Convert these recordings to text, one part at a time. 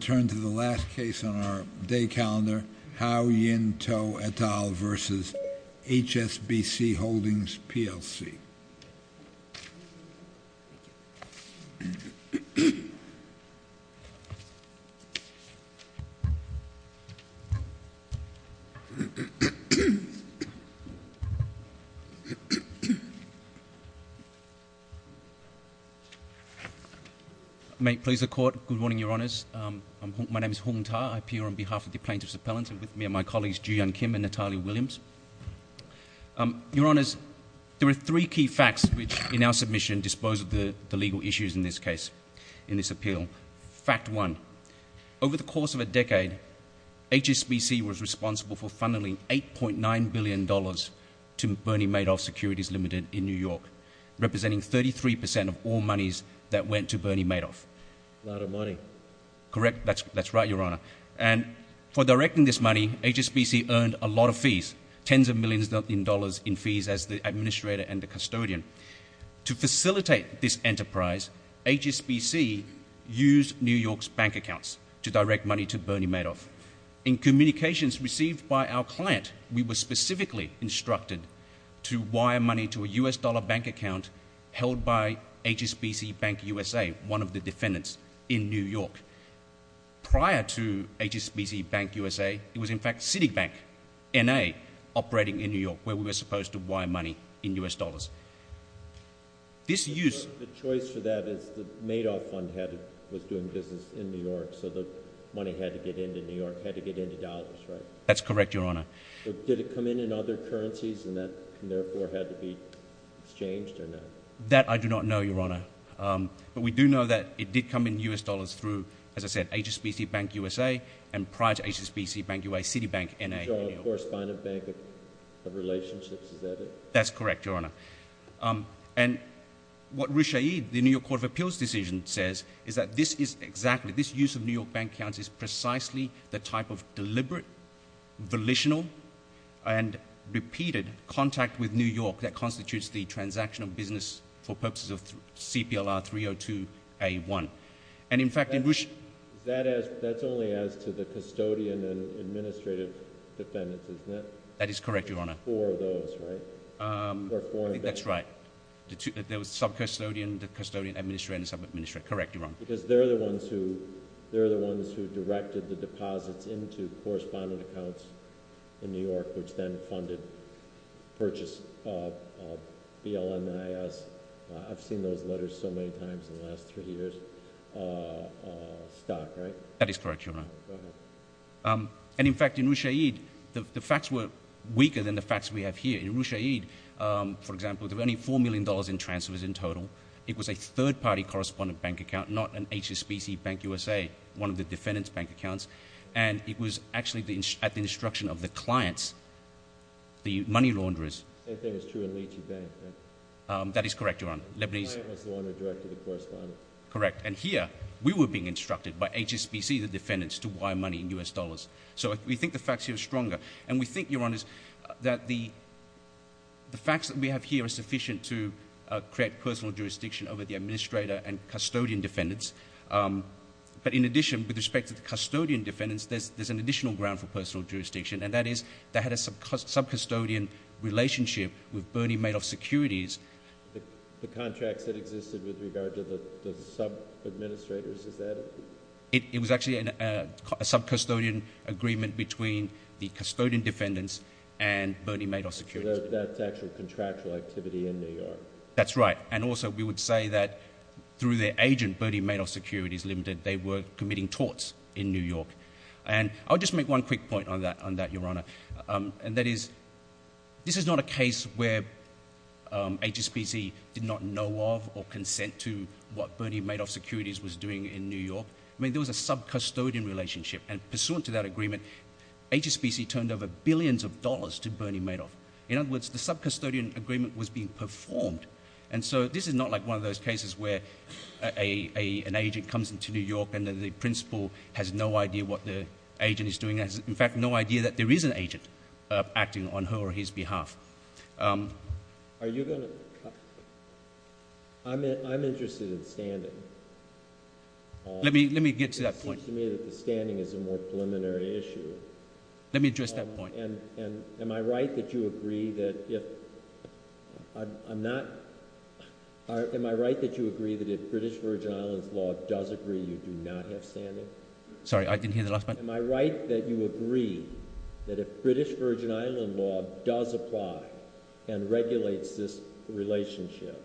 Turn to the last case on our day calendar, Hao-Yin Tso et al. v. HSBC Holdings plc. May it please the Court. Good morning, Your Honours. My name is Hung Ta. I appear on behalf of the plaintiffs' appellant and with me are my colleagues Joo-Yeon Kim and Natalia Williams. Your Honours, there are three key facts which in our submission dispose of the legal issues in this case, in this appeal. Fact one, over the course of a decade, HSBC was responsible for funneling $8.9 billion to Bernie Madoff Securities Ltd. in New York, representing 33% of all monies that went to Bernie Madoff. A lot of money. Correct, that's right, Your Honour. And for directing this money, HSBC earned a lot of fees, tens of millions of dollars in fees as the administrator and the custodian. To facilitate this enterprise, HSBC used New York's bank accounts to direct money to Bernie Madoff. In communications received by our client, we were specifically instructed to wire money to a US dollar bank account held by HSBC Bank USA, one of the defendants in New York. Prior to HSBC Bank USA, it was in fact Citibank, N.A., operating in New York where we were supposed to wire money in US dollars. This use... The choice for that is the Madoff fund was doing business in New York so the money had to get into New York, had to get into dollars, right? That's correct, Your Honour. Did it come in in other currencies and therefore had to be exchanged or not? That I do not know, Your Honour. But we do know that it did come in US dollars through, as I said, HSBC Bank USA and prior to HSBC Bank USA, Citibank, N.A., in New York. And you're a correspondent bank of relationships, is that it? That's correct, Your Honour. And what Roush Aid, the New York Court of Appeals decision, says is that this is exactly, this use of New York bank accounts is precisely the type of deliberate, volitional and repeated contact with New York that constitutes the transaction of business for purposes of CPLR 302A1. And in fact, in Roush... That's only as to the custodian and administrative defendants, isn't it? That is correct, Your Honour. Four of those, right? That's right. The sub-custodian, the custodian administrator and the sub-administrator, correct, Your Honour. Because they're the ones who directed the deposits into correspondent accounts in New York which then funded purchase of BLNIS, I've seen those letters so many times in the last three years, stock, right? That is correct, Your Honour. Go ahead. And in fact, in Roush Aid, the facts were weaker than the facts we have here. In Roush Aid, for example, there were only $4 million in transfers in total. It was a third-party correspondent bank account, not an HSBC Bank USA, one of the defendants' bank accounts. And it was actually at the instruction of the clients, the money launderers. The same thing is true in Lecce Bank, right? That is correct, Your Honour. The client was the one who directed the correspondence. Correct. And here, we were being instructed by HSBC, the defendants, to wire money in US dollars. So we think the facts here are stronger. And we think, Your Honour, that the facts that we have here are sufficient to create personal jurisdiction over the administrator and custodian defendants. But in addition, with respect to the custodian defendants, there's an additional ground for the fact that they had a sub-custodian relationship with Bernie Madoff Securities. The contracts that existed with regard to the sub-administrators, is that it? It was actually a sub-custodian agreement between the custodian defendants and Bernie Madoff Securities. So that's actual contractual activity in New York? That's right. And also, we would say that through their agent, Bernie Madoff Securities Limited, they were committing torts in New York. And I'll just make one quick point on that, Your Honour. And that is, this is not a case where HSBC did not know of or consent to what Bernie Madoff Securities was doing in New York. I mean, there was a sub-custodian relationship. And pursuant to that agreement, HSBC turned over billions of dollars to Bernie Madoff. In other words, the sub-custodian agreement was being performed. And so, this is not like one of those cases where an agent comes into New York and the principal has no idea what the agent is doing. In fact, no idea that there is an agent acting on her or his behalf. Are you going to? I'm interested in standing. Let me get to that point. It seems to me that the standing is a more preliminary issue. Let me address that point. And am I right that you agree that if I'm not? Am I right that you agree that if British Virgin Islands law does agree, you do not have standing? Sorry, I didn't hear the last part. Am I right that you agree that if British Virgin Island law does apply and regulates this relationship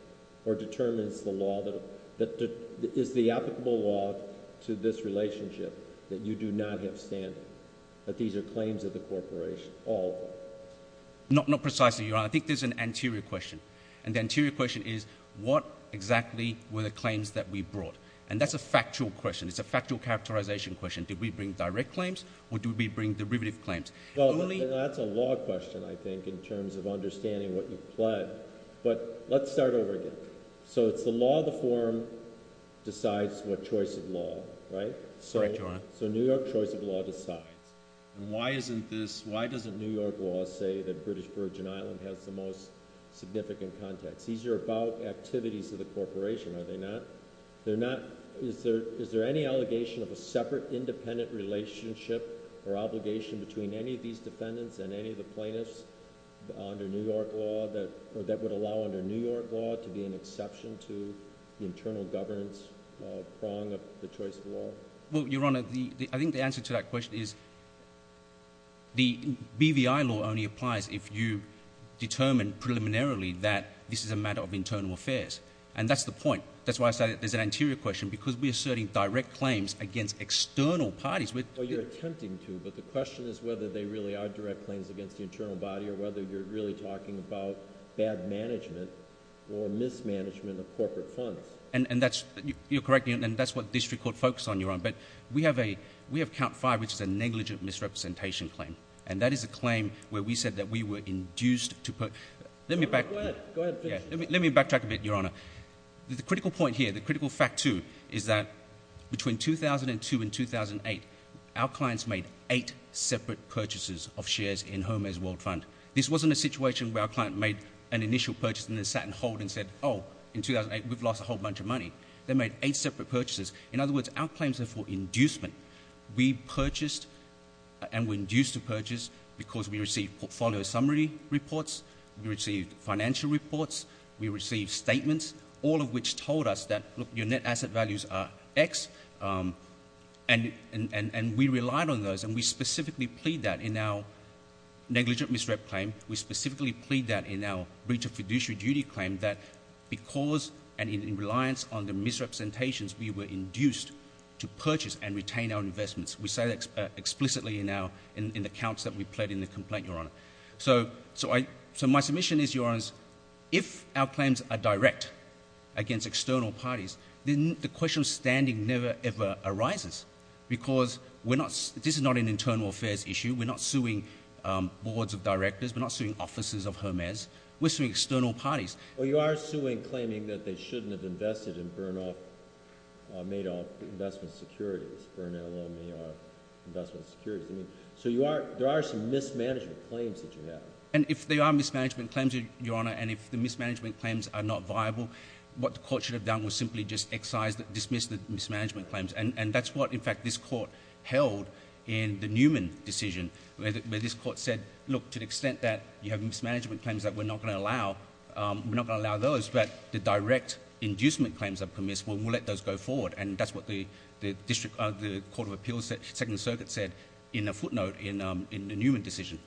or determines the law that is the applicable law to this relationship, that you do not have standing? That these are claims of the corporation, all of them? Not precisely, Your Honour. I think there's an anterior question. And the anterior question is, what exactly were the claims that we brought? And that's a factual question. It's a factual characterization question. Did we bring direct claims or did we bring derivative claims? Well, that's a law question, I think, in terms of understanding what you've pledged. But let's start over again. So, it's the law of the forum decides what choice of law, right? Sorry, Your Honour. So, New York choice of law decides. Why doesn't New York law say that British Virgin Island has the most significant context? These are about activities of the corporation, are they not? Is there any allegation of a separate independent relationship or obligation between any of these defendants and any of the plaintiffs under New York law that would allow under New York law to be an exception to the internal governance prong of the choice of law? Well, Your Honour, I think the answer to that question is the BVI law only applies if you determine preliminarily that this is a matter of internal affairs. And that's the point. That's why I said there's an anterior question, because we're asserting direct claims against external parties. Well, you're attempting to, but the question is whether they really are direct claims against the internal body or whether you're really talking about bad management or mismanagement of corporate funds. And that's — you're correct, and that's what this record focuses on, Your Honour. But we have a — we have a negligent misrepresentation claim, and that is a claim where we said that we were induced to put — let me back — Go ahead. Go ahead. Let me backtrack a bit, Your Honour. The critical point here, the critical fact, too, is that between 2002 and 2008, our clients made eight separate purchases of shares in Jomez World Fund. This wasn't a situation where our client made an initial purchase and then sat and hold and said, oh, in 2008, we've lost a whole bunch of money. They made eight separate purchases. In other words, our claims are for inducement. We purchased and were induced to purchase because we received portfolio summary reports, we received financial reports, we received statements, all of which told us that, look, your net asset values are X, and we relied on those, and we specifically plead that in our negligent misrep claim. We specifically plead that in our breach of fiduciary duty claim, that because — and in reliance on the misrepresentations, we were induced to purchase and retain our investments. We say that explicitly in our — in the counts that we pled in the complaint, Your Honour. So I — so my submission is, Your Honours, if our claims are direct against external parties, then the question of standing never ever arises because we're not — this is not an internal affairs issue. We're not suing boards of directors. We're not suing officers of Jomez. We're suing external parties. Well, you are suing claiming that they shouldn't have invested in burn-off — made-off investment securities, burn-LMER investment securities. I mean, so you are — there are some mismanagement claims that you have. And if there are mismanagement claims, Your Honour, and if the mismanagement claims are not viable, what the Court should have done was simply just excise — dismiss the mismanagement claims. And that's what, in fact, this Court held in the Newman decision, where this Court said, look, to the extent that you have mismanagement claims that we're not going to allow, we are not going to allow those, but the direct inducement claims are permissible, and we'll let those go forward. And that's what the District — the Court of Appeals, Second Circuit said in a footnote in the Newman decision.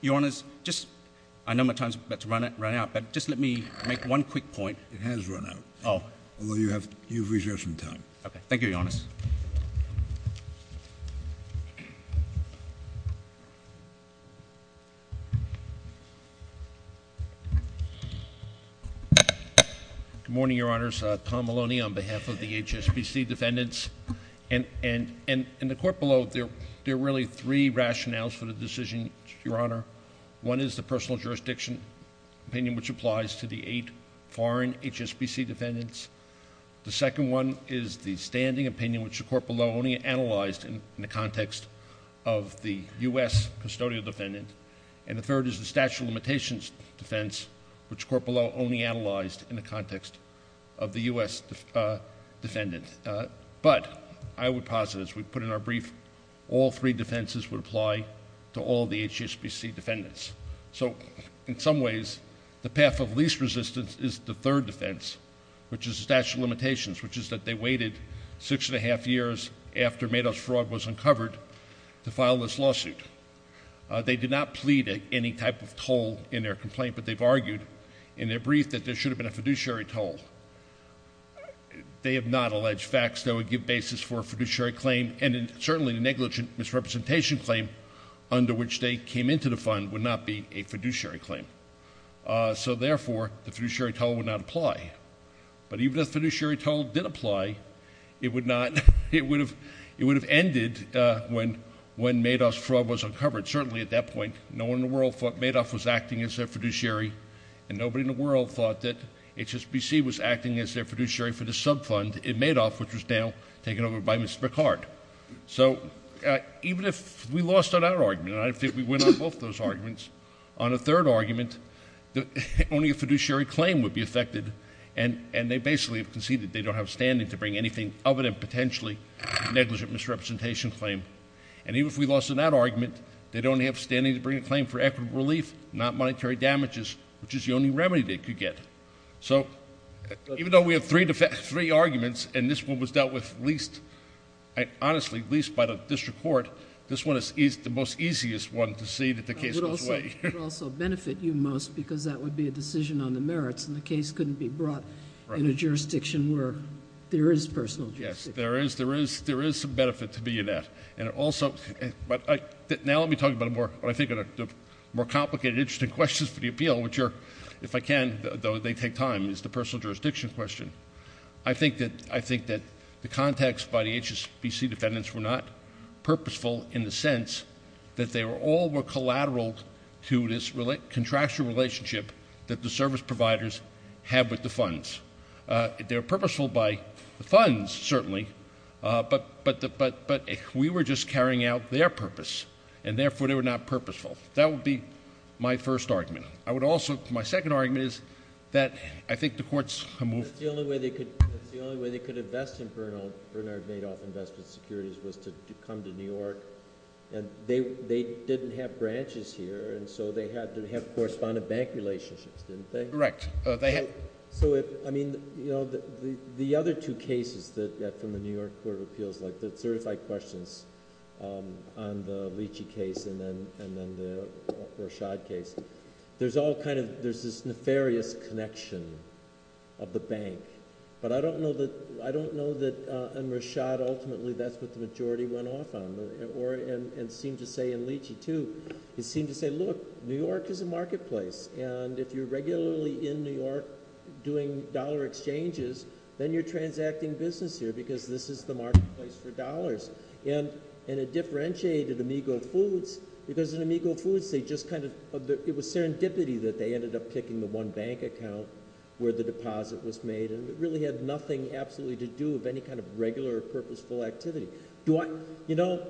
Your Honours, just — I know my time's about to run out, but just let me make one quick point. It has run out. Oh. Although you have — you've reserved some time. Okay. Thank you, Your Honours. Good morning, Your Honours. Tom Maloney on behalf of the HSBC defendants. And in the Court below, there are really three rationales for the decision, Your Honour. One is the personal jurisdiction opinion, which applies to the eight foreign HSBC defendants. The second one is the standing opinion, which the Court below only analyzed in the context of the U.S. custodial defendant. And the third is the statute of limitations defense, which the Court below only analyzed in the context of the U.S. defendant. But I would posit, as we put in our brief, all three defenses would apply to all the HSBC defendants. So in some ways, the path of least resistance is the third defense, which is the statute of limitations, which is that they waited six and a half years after Madoff's fraud was uncovered to file this lawsuit. They did not plead any type of toll in their complaint, but they've argued in their brief that there should have been a fiduciary toll. They have not alleged facts that would give basis for a fiduciary claim, and certainly the negligent misrepresentation claim under which they came into the fund would not be a fiduciary claim. So therefore, the fiduciary toll would not apply. But even if the fiduciary toll did apply, it would not, it would have ended when Madoff's fraud was uncovered. Certainly at that point, no one in the world thought Madoff was acting as their fiduciary, and nobody in the world thought that HSBC was acting as their fiduciary for the subfund in Madoff, which was now taken over by Mr. Picard. So even if we lost on our argument, and I think we win on both those arguments, on a third argument, only a fiduciary claim would be affected, and they basically have conceded they don't have standing to bring anything other than potentially negligent misrepresentation claim. And even if we lost on that argument, they don't have standing to bring a claim for equitable relief, not monetary damages, which is the only remedy they could get. So honestly, at least by the district court, this one is the most easiest one to see that the case goes away. I would also benefit you most, because that would be a decision on the merits, and the case couldn't be brought in a jurisdiction where there is personal jurisdiction. Yes, there is some benefit to being in that. Now let me talk about what I think are the more complicated, interesting questions for the appeal, which are, if I can, though they take time, is the personal jurisdiction question. I think that the context by the HSBC defendants were not purposeful in the sense that they all were collateral to this contractual relationship that the service providers have with the funds. They were purposeful by the funds, certainly, but we were just carrying out their purpose, and therefore they were not purposeful. That would be my first argument. My second argument is that I think the court's move— The only way they could invest in Bernard Madoff Investment Securities was to come to New York, and they didn't have branches here, and so they had to have correspondent bank relationships, didn't they? Correct. So, I mean, the other two cases from the New York Court of Appeals, like the certified questions on the Leachy case and then the Rashad case, there's this nefarious connection of the bank, but I don't know that, in Rashad, ultimately, that's what the majority went off on, and seemed to say in Leachy, too. It seemed to say, look, New York is a marketplace, and if you're regularly in New York doing dollar exchanges, then you're transacting business here because this is the marketplace for dollars. It differentiated Amigo Foods because in Amigo Foods, it was serendipity that they ended up picking the one bank account where the deposit was made, and it really had nothing absolutely to do with any kind of regular, purposeful activity. Do I—you know,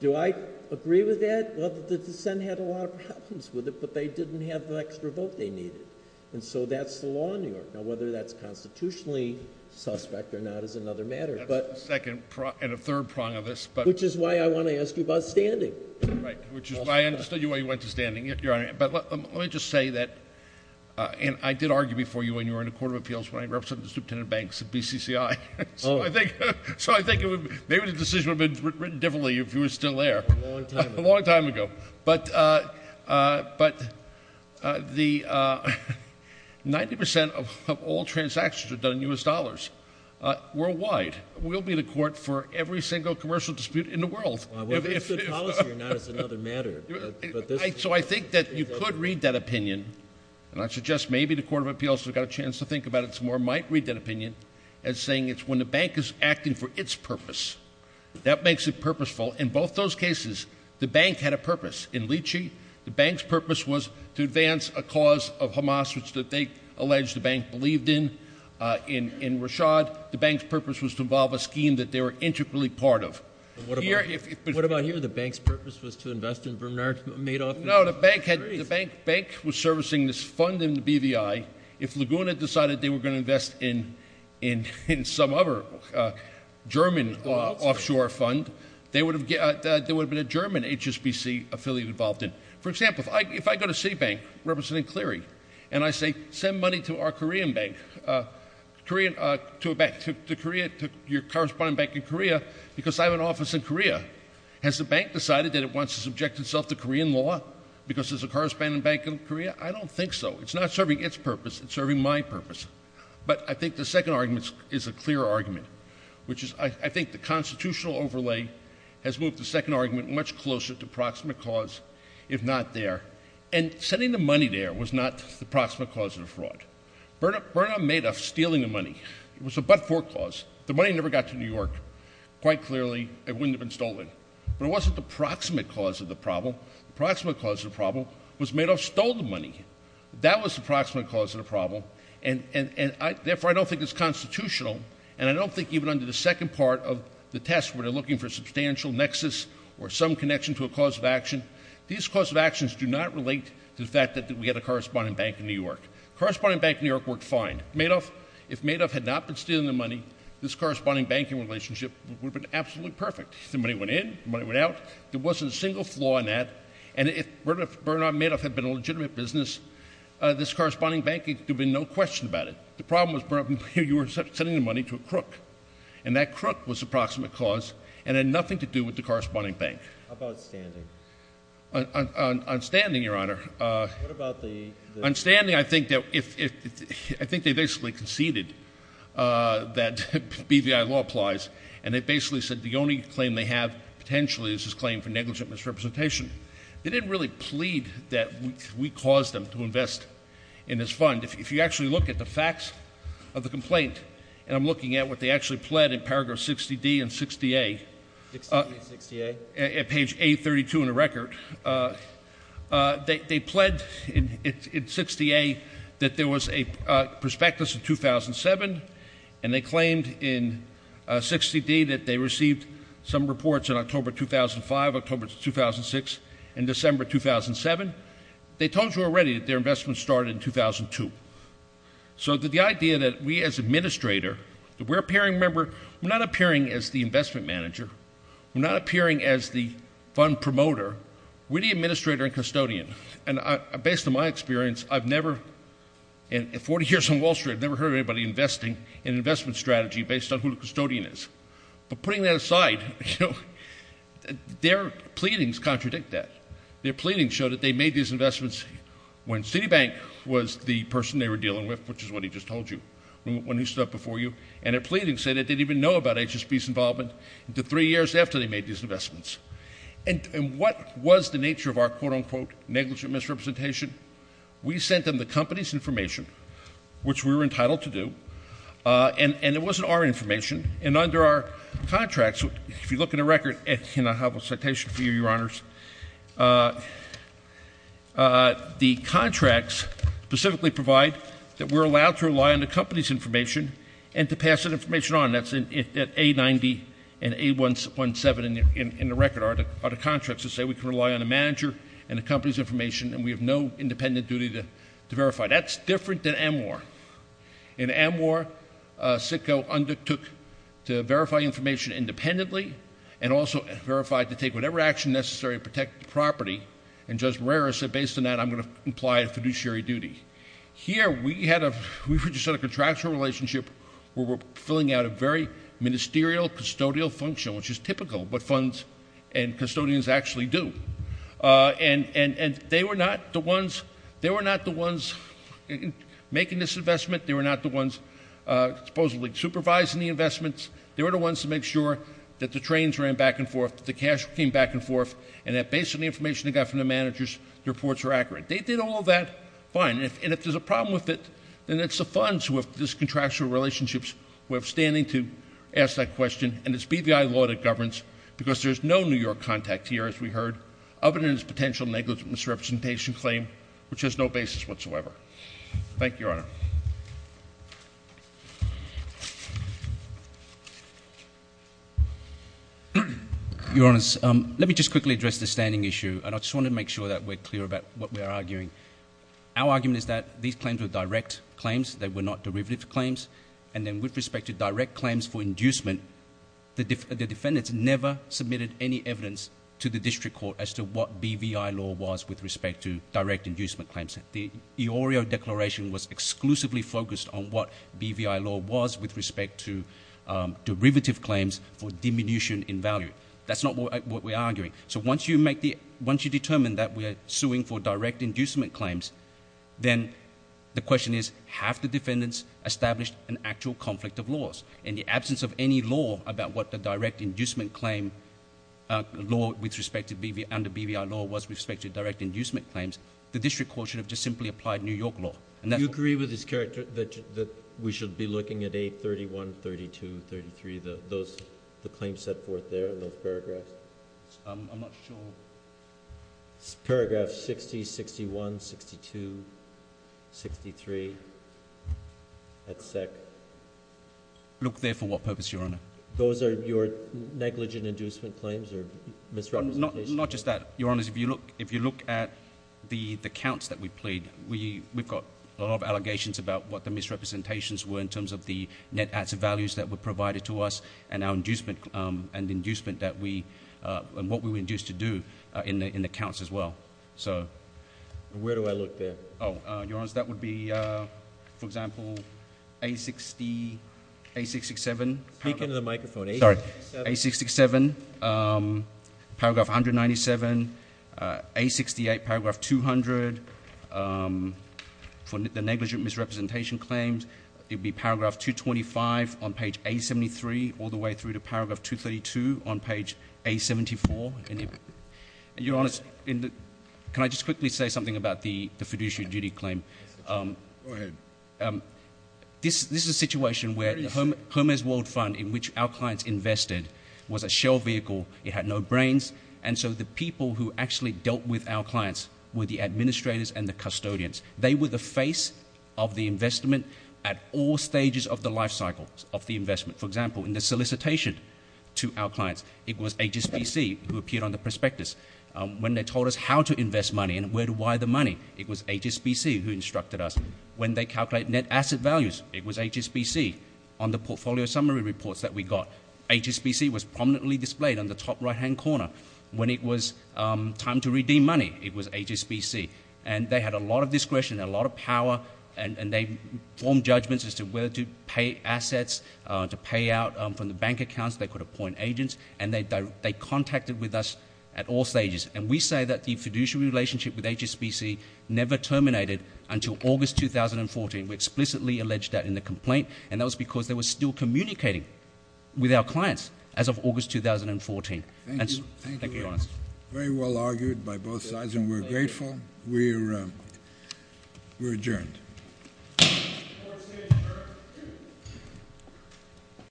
do I agree with that? Well, the dissent had a lot of problems with it, but they didn't have the extra vote they needed, and so that's the law in New York. Now, whether that's constitutionally suspect or not is another matter, but— That's the second prong—and the third prong of this, but— Which is why I want to ask you about standing. Right, which is why I understood you when you went to standing, Your Honor, but let me just say that—and I did argue before you when you were in the Court of Appeals when I represented the superintendent of banks at BCCI, so I think—so I think maybe the decision would have been written differently if you were still there. A long time ago. A long time ago. But the—90 percent of all transactions are done in U.S. dollars. Worldwide, we'll be the court for every single commercial dispute in the world. Well, whether it's the policy or not is another matter, but this— So I think that you could read that opinion, and I suggest maybe the Court of Appeals has got a chance to think about it some more, might read that opinion as saying it's when the bank is acting for its purpose. That makes it purposeful. In both those cases, the bank had a purpose. In Lychee, the bank's purpose was to advance a cause of Hamas, which they allege the bank believed in. In Rashad, the bank's purpose was to involve a scheme that they were integrally part of. What about here? The bank's purpose was to invest in Bernard Madoff? No, the bank was servicing this fund in the BVI. If Laguna decided they were going to invest in some other German offshore fund, there would have been a German HSBC affiliate involved in. For example, if I go to C-Bank, representing Cleary, and I say, send money to our Korean bank—to your corresponding bank in Korea, because I have an office in Korea—has the bank decided that it wants to subject itself to Korean law because there's a corresponding bank in Korea? I don't think so. It's not serving its purpose. It's serving my purpose. But I think the second argument is a clearer argument, which is I think the constitutional overlay has moved the second argument much closer to proximate cause, if not there. And sending the money there was not the proximate cause of the fraud. Bernard Madoff stealing the money was a but-for cause. The money never got to New York. Quite clearly, it wouldn't have been stolen. But it wasn't the proximate cause of the problem. The proximate cause of the problem was Madoff stole the money. That was the proximate cause of the problem. Therefore, I don't think it's constitutional, and I don't think even under the second part of the test, where they're looking for a substantial nexus or some connection to a cause of action, these cause of actions do not relate to the fact that we had a corresponding bank in New York. The corresponding bank in New York worked fine. If Madoff had not been stealing the money, this corresponding banking relationship would have been absolutely perfect. The money went in. The money went out. There wasn't a single flaw in that. And if Bernard Madoff had been a legitimate business, this corresponding banking, there'd be no question about it. The problem was you were sending the money to a crook, and that crook was the proximate cause and had nothing to do with the corresponding bank. How about standing? On standing, Your Honor, I think they basically conceded that BVI law applies, and they basically said the only claim they have potentially is this claim for negligent misrepresentation. They didn't really plead that we caused them to invest in this fund. If you actually look at the facts of the complaint, and I'm looking at what they actually did in 60-D and 60-A, at page 832 in the record, they pled in 60-A that there was a prospectus in 2007, and they claimed in 60-D that they received some reports in October 2005, October 2006, and December 2007. They told you already that their investment started in 2002. So the idea that we as administrator, that we're appearing, remember, we're not appearing as the investment manager. We're not appearing as the fund promoter. We're the administrator and custodian. And based on my experience, I've never, in 40 years on Wall Street, I've never heard anybody investing in an investment strategy based on who the custodian is. But putting that aside, their pleadings contradict that. Their pleadings show that they made these investments when Citibank was the person they were dealing with, which is what he just told you, when he stood up before you, and their pleadings say that they didn't even know about HSB's involvement until three years after they made these investments. And what was the nature of our, quote, unquote, negligent misrepresentation? We sent them the company's information, which we were entitled to do, and it wasn't our information. And under our contracts, if you look in the record, and I have a citation for you, Your Honors, the contracts specifically provide that we're allowed to rely on the company's information and to pass that information on. That's in A-90 and A-117 in the record are the contracts that say we can rely on the manager and the company's information, and we have no independent duty to verify. That's different than Amwar. In Amwar, Citgo undertook to verify information independently and also verified to take whatever action necessary to protect the property. And Judge implied a fiduciary duty. Here, we had a, we just had a contractual relationship where we're filling out a very ministerial custodial function, which is typical, but funds and custodians actually do. And they were not the ones, they were not the ones making this investment. They were not the ones supposedly supervising the investments. They were the ones to make sure that the trains ran back and forth, the cash came back and forth, and that based on the manager's reports were accurate. They did all of that fine. And if there's a problem with it, then it's the funds who have this contractual relationships who have standing to ask that question. And it's BVI law that governs because there's no New York contact here, as we heard, other than as potential negligent misrepresentation claim, which has no basis whatsoever. Thank you, Your Honor. Your Honor, let me just quickly address the standing issue. And I just want to make sure that we're clear about what we're arguing. Our argument is that these claims were direct claims. They were not derivative claims. And then with respect to direct claims for inducement, the defendants never submitted any evidence to the district court as to what BVI law was with respect to direct inducement claims. The EORIO declaration was exclusively focused on what BVI law was with respect to derivative claims for diminution in value. That's not what we're arguing. So once you determine that we're suing for direct inducement claims, then the question is, have the defendants established an actual conflict of laws? In the absence of any law about what the direct inducement claim law under BVI law was with respect to direct inducement claims, the district court should have just simply applied New York law. Do you agree with this character that we should be looking at 831, 32, 33, the claims set forth there in those paragraphs? I'm not sure. Paragraph 60, 61, 62, 63, et cetera. Look there for what purpose, Your Honor. Those are your negligent inducement claims or misrepresentations? Not just that, Your Honors. If you look at the counts that we plead, we've got a lot of allegations about what the misrepresentations were in terms of the net acts of values that were provided to us and our inducement and what we were induced to do in the counts as well. Where do I look there? Oh, Your Honors, that would be, for example, A60, A667. Speak into the microphone. Sorry. A667, paragraph 197, A68, paragraph 200, for the negligent misrepresentation claims, it would be paragraph 225 on page A73 all the way through to paragraph 232 on page A74. And Your Honors, can I just quickly say something about the fiduciary duty claim? Go ahead. This is a situation where the Hermes World Fund in which our clients invested was a shell vehicle. It had no brains, and so the people who actually dealt with our clients were the administrators and the custodians. They were the face of the investment at all stages of the life cycle of the investment. For example, in the solicitation to our clients, it was HSBC who appeared on the prospectus. When they told us how to invest money and where to wire the money, it was HSBC who instructed us. When they calculated net asset values, it was HSBC on the portfolio summary reports that we got. HSBC was prominently displayed on the top right-hand corner. When it was time to redeem money, it was HSBC. And they had a lot of discretion and a lot of power, and they formed judgments as to whether to pay assets, to pay out from the bank accounts they could appoint agents, and they contacted with us at all stages. And we say that the fiduciary relationship with HSBC never terminated until August 2014. We explicitly alleged that in the complaint, and that was because they were still communicating with our clients as of August 2014. Very well argued by both sides, and we're grateful. We're adjourned.